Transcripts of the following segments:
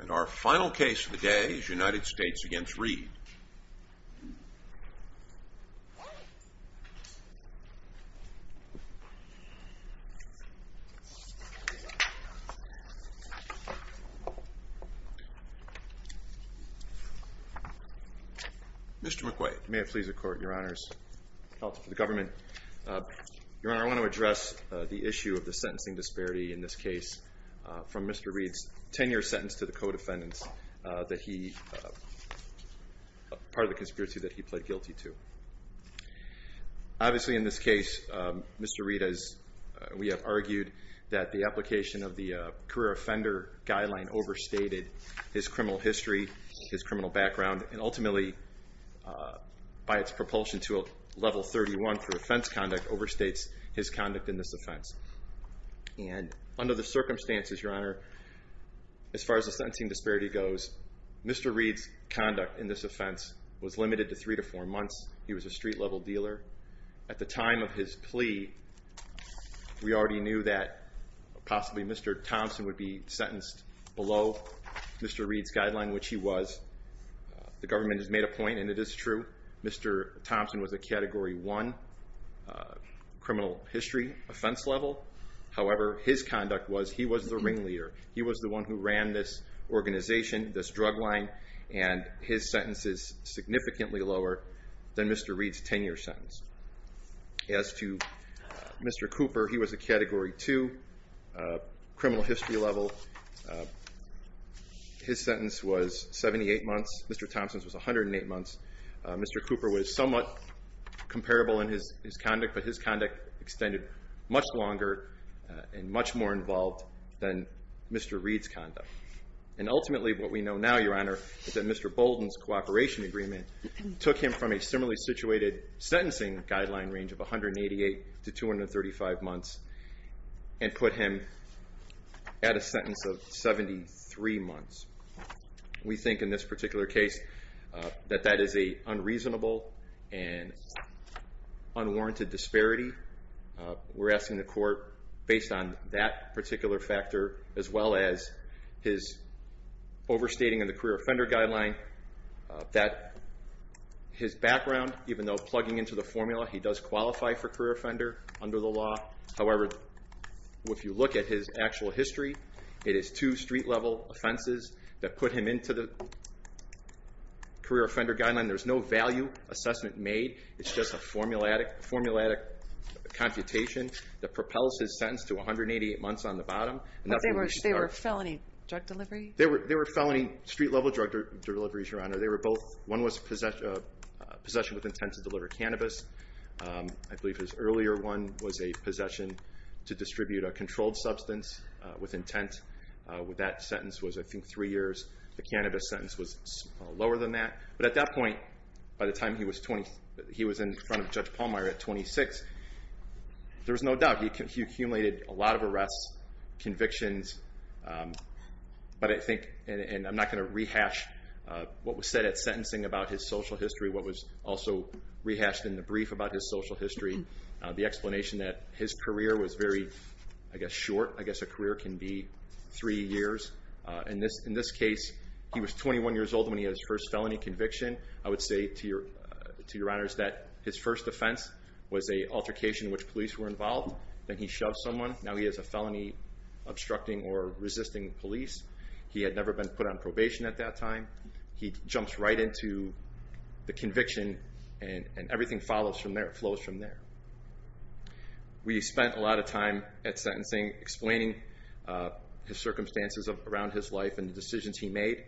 And our final case of the day is United States v. Reed. Mr. McQuaid. May it please the Court, Your Honors. Oh, the government. Your Honor, I want to address the issue of the sentencing disparity in this case from Mr. Reed's 10-year sentence to the co-defendants that he, part of the conspiracy that he pled guilty to. Obviously, in this case, Mr. Reed, as we have argued, that the application of the career offender guideline overstated his criminal history, his criminal background, and ultimately, by its propulsion to a level 31 for offense conduct, overstates his conduct in this offense. And under the circumstances, Your Honor, as far as the sentencing disparity goes, Mr. Reed's conduct in this offense was limited to three to four months. He was a street-level dealer. At the time of his plea, we already knew that possibly Mr. Thompson would be sentenced below Mr. Reed's guideline, which he was. The government has made a point, and it is true. Mr. Thompson was a Category 1 criminal history offense level. However, his conduct was he was the ringleader. He was the one who ran this organization, this drug line. And his sentence is significantly lower than Mr. Reed's 10-year sentence. As to Mr. Cooper, he was a Category 2 criminal history level. His sentence was 78 months. Mr. Thompson's was 108 months. Mr. Cooper was somewhat comparable in his conduct, but his conduct extended much longer and much more involved than Mr. Reed's conduct. And ultimately, what we know now, Your Honor, is that Mr. Bolden's cooperation agreement took him from a similarly situated sentencing guideline range of 188 to 235 months and put him at a sentence of 73 months. We think, in this particular case, that that is a unreasonable and unwarranted disparity. We're asking the court, based on that particular factor as well as his overstating in the career offender guideline, that his background, even though plugging into the formula, he does qualify for career offender under the law. However, if you look at his actual history, it is two street level offenses that put him into the career offender guideline. There's no value assessment made. It's just a formulatic computation that propels his sentence to 188 months on the bottom. But they were felony drug delivery? They were felony street level drug deliveries, Your Honor. They were both. One was possession with intent to deliver cannabis. I believe his earlier one was a possession to distribute a controlled substance with intent. That sentence was, I think, three years. The cannabis sentence was lower than that. But at that point, by the time he was in front of Judge Pallmeyer at 26, there was no doubt. He accumulated a lot of arrests, convictions. But I think, and I'm not going to rehash what was said at sentencing about his social history, what was also rehashed in the brief about his social history, the explanation that his career was very, I guess, short. I guess a career can be three years. In this case, he was 21 years old when he had his first felony conviction. I would say to Your Honors that his first offense was a altercation in which police were involved. Then he shoved someone. Now he has a felony obstructing or resisting police. He had never been put on probation at that time. He jumps right into the conviction. And everything flows from there. We spent a lot of time at sentencing explaining his circumstances around his life and the decisions he made.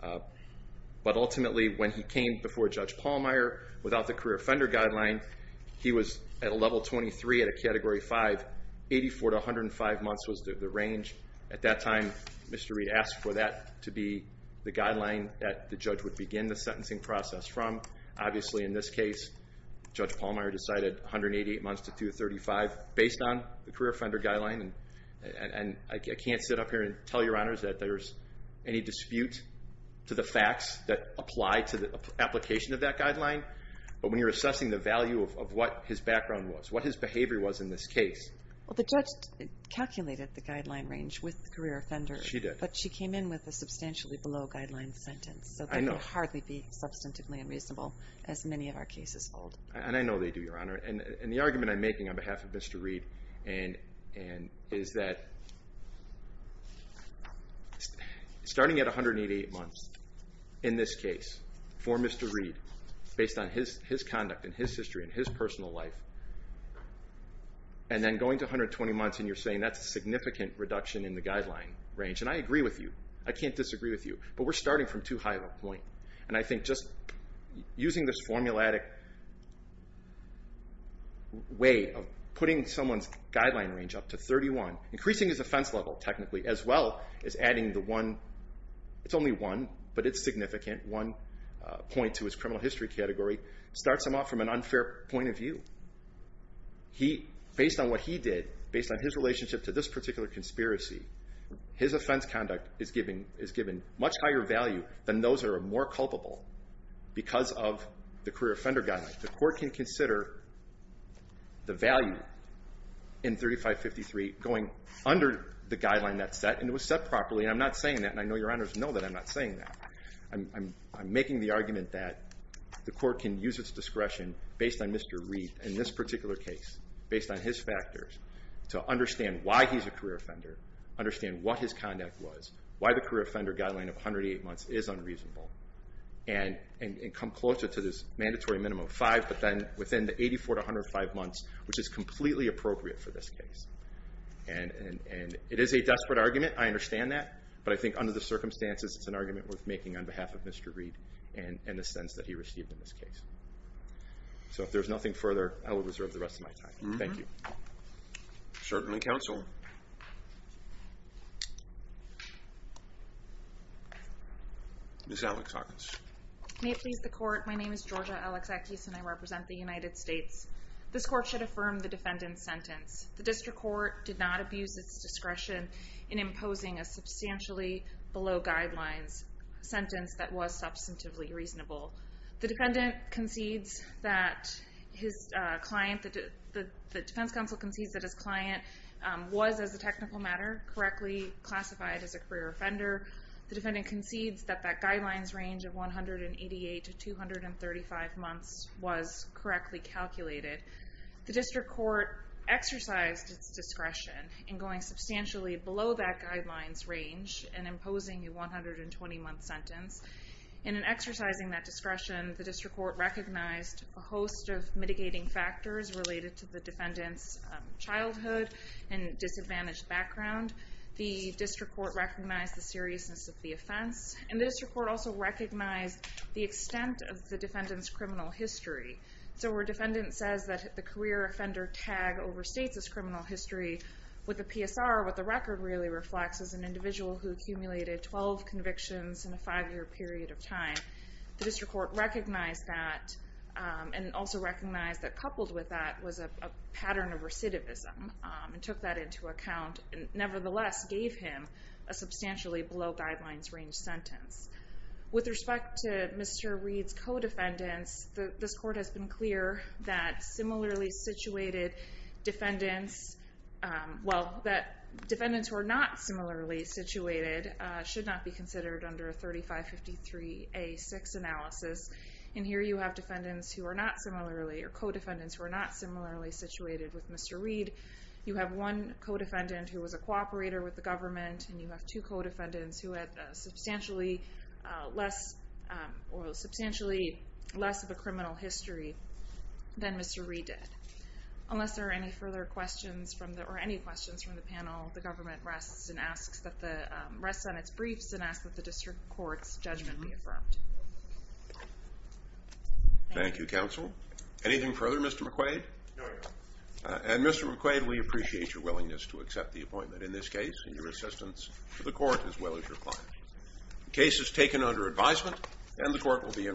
But ultimately, when he came before Judge Pallmeyer without the career offender guideline, he was at a level 23 at a category 5. 84 to 105 months was the range. At that time, Mr. Reed asked for that to be the guideline that the judge would begin the sentencing process from. Obviously, in this case, Judge Pallmeyer decided 188 months to 235 based on the career offender guideline. And I can't sit up here and tell Your Honors that there's any dispute to the facts that apply to the application of that guideline. But when you're assessing the value of what his background was, what his behavior was in this case. Well, the judge calculated the guideline range with the career offender. She did. But she came in with a substantially below guideline sentence. So that would hardly be substantively unreasonable as many of our cases hold. And I know they do, Your Honor. And the argument I'm making on behalf of Mr. Reed is that starting at 188 months in this case for Mr. Reed, based on his conduct, and his history, and his personal life. And then going to 120 months, and you're saying, that's a significant reduction in the guideline range. And I agree with you. I can't disagree with you. But we're starting from too high of a point. And I think just using this formulatic way of putting someone's guideline range up to 31, increasing his offense level technically, as well as adding the one, it's only one, but it's significant, one point to his criminal history category, starts him off from an unfair point of view. Based on what he did, based on his relationship to this particular conspiracy, his offense conduct is given much higher value than those that are more culpable because of the career offender guideline. The court can consider the value in 3553 going under the guideline that's set. And it was set properly. And I'm not saying that. And I know Your Honors know that I'm not saying that. I'm making the argument that the court can use its discretion based on Mr. Reed, in this particular case, based on his factors, to understand why he's a career offender, understand what his conduct was, why the career offender guideline of 108 months is unreasonable, and come closer to this mandatory minimum of five, but then within the 84 to 105 months, which is completely appropriate for this case. And it is a desperate argument. I understand that. But I think under the circumstances, it's an argument worth making on behalf of Mr. Reed and the sense that he received in this case. So if there's nothing further, I will reserve the rest of my time. Thank you. Certainly, counsel. Ms. Alexakis. May it please the court, my name is Georgia Alexakis. And I represent the United States. This court should affirm the defendant's sentence. The district court did not abuse its discretion in imposing a substantially below guidelines sentence that was substantively reasonable. The defendant concedes that his client, the defense counsel concedes that his client was, as a technical matter, correctly classified as a career offender. The defendant concedes that that guidelines range of 188 to 235 months was correctly calculated. The district court exercised its discretion in going substantially below that guidelines range and imposing a 120 month sentence. And in exercising that discretion, the district court recognized a host of mitigating factors related to the defendant's childhood and disadvantaged background. The district court recognized the seriousness of the offense. And the district court also recognized the extent of the defendant's criminal history. So where a defendant says that the career offender tag overstates his criminal history, with a PSR, what the record really reflects is an individual who accumulated 12 convictions in a five year period of time. The district court recognized that and also recognized that coupled with that was a pattern of recidivism and took that into account and nevertheless gave him a substantially below guidelines range sentence. With respect to Mr. Reed's co-defendants, this court has been clear that similarly situated defendants, well, that defendants who are not similarly situated should not be considered under a 3553A6 analysis. And here you have defendants who are not similarly, or co-defendants who are not similarly situated with Mr. Reed. You have one co-defendant who was a cooperator with the government and you have two co-defendants who had substantially less of a criminal history than Mr. Reed did. Unless there are any further questions from the, or any questions from the panel, the government rests on its briefs and asks that the district court's judgment be affirmed. Thank you, counsel. Anything further, Mr. McQuaid? No, Your Honor. And Mr. McQuaid, we appreciate your willingness to accept the appointment in this case and your assistance to the court as well as your client. Case is taken under advisement and the court will be in recess.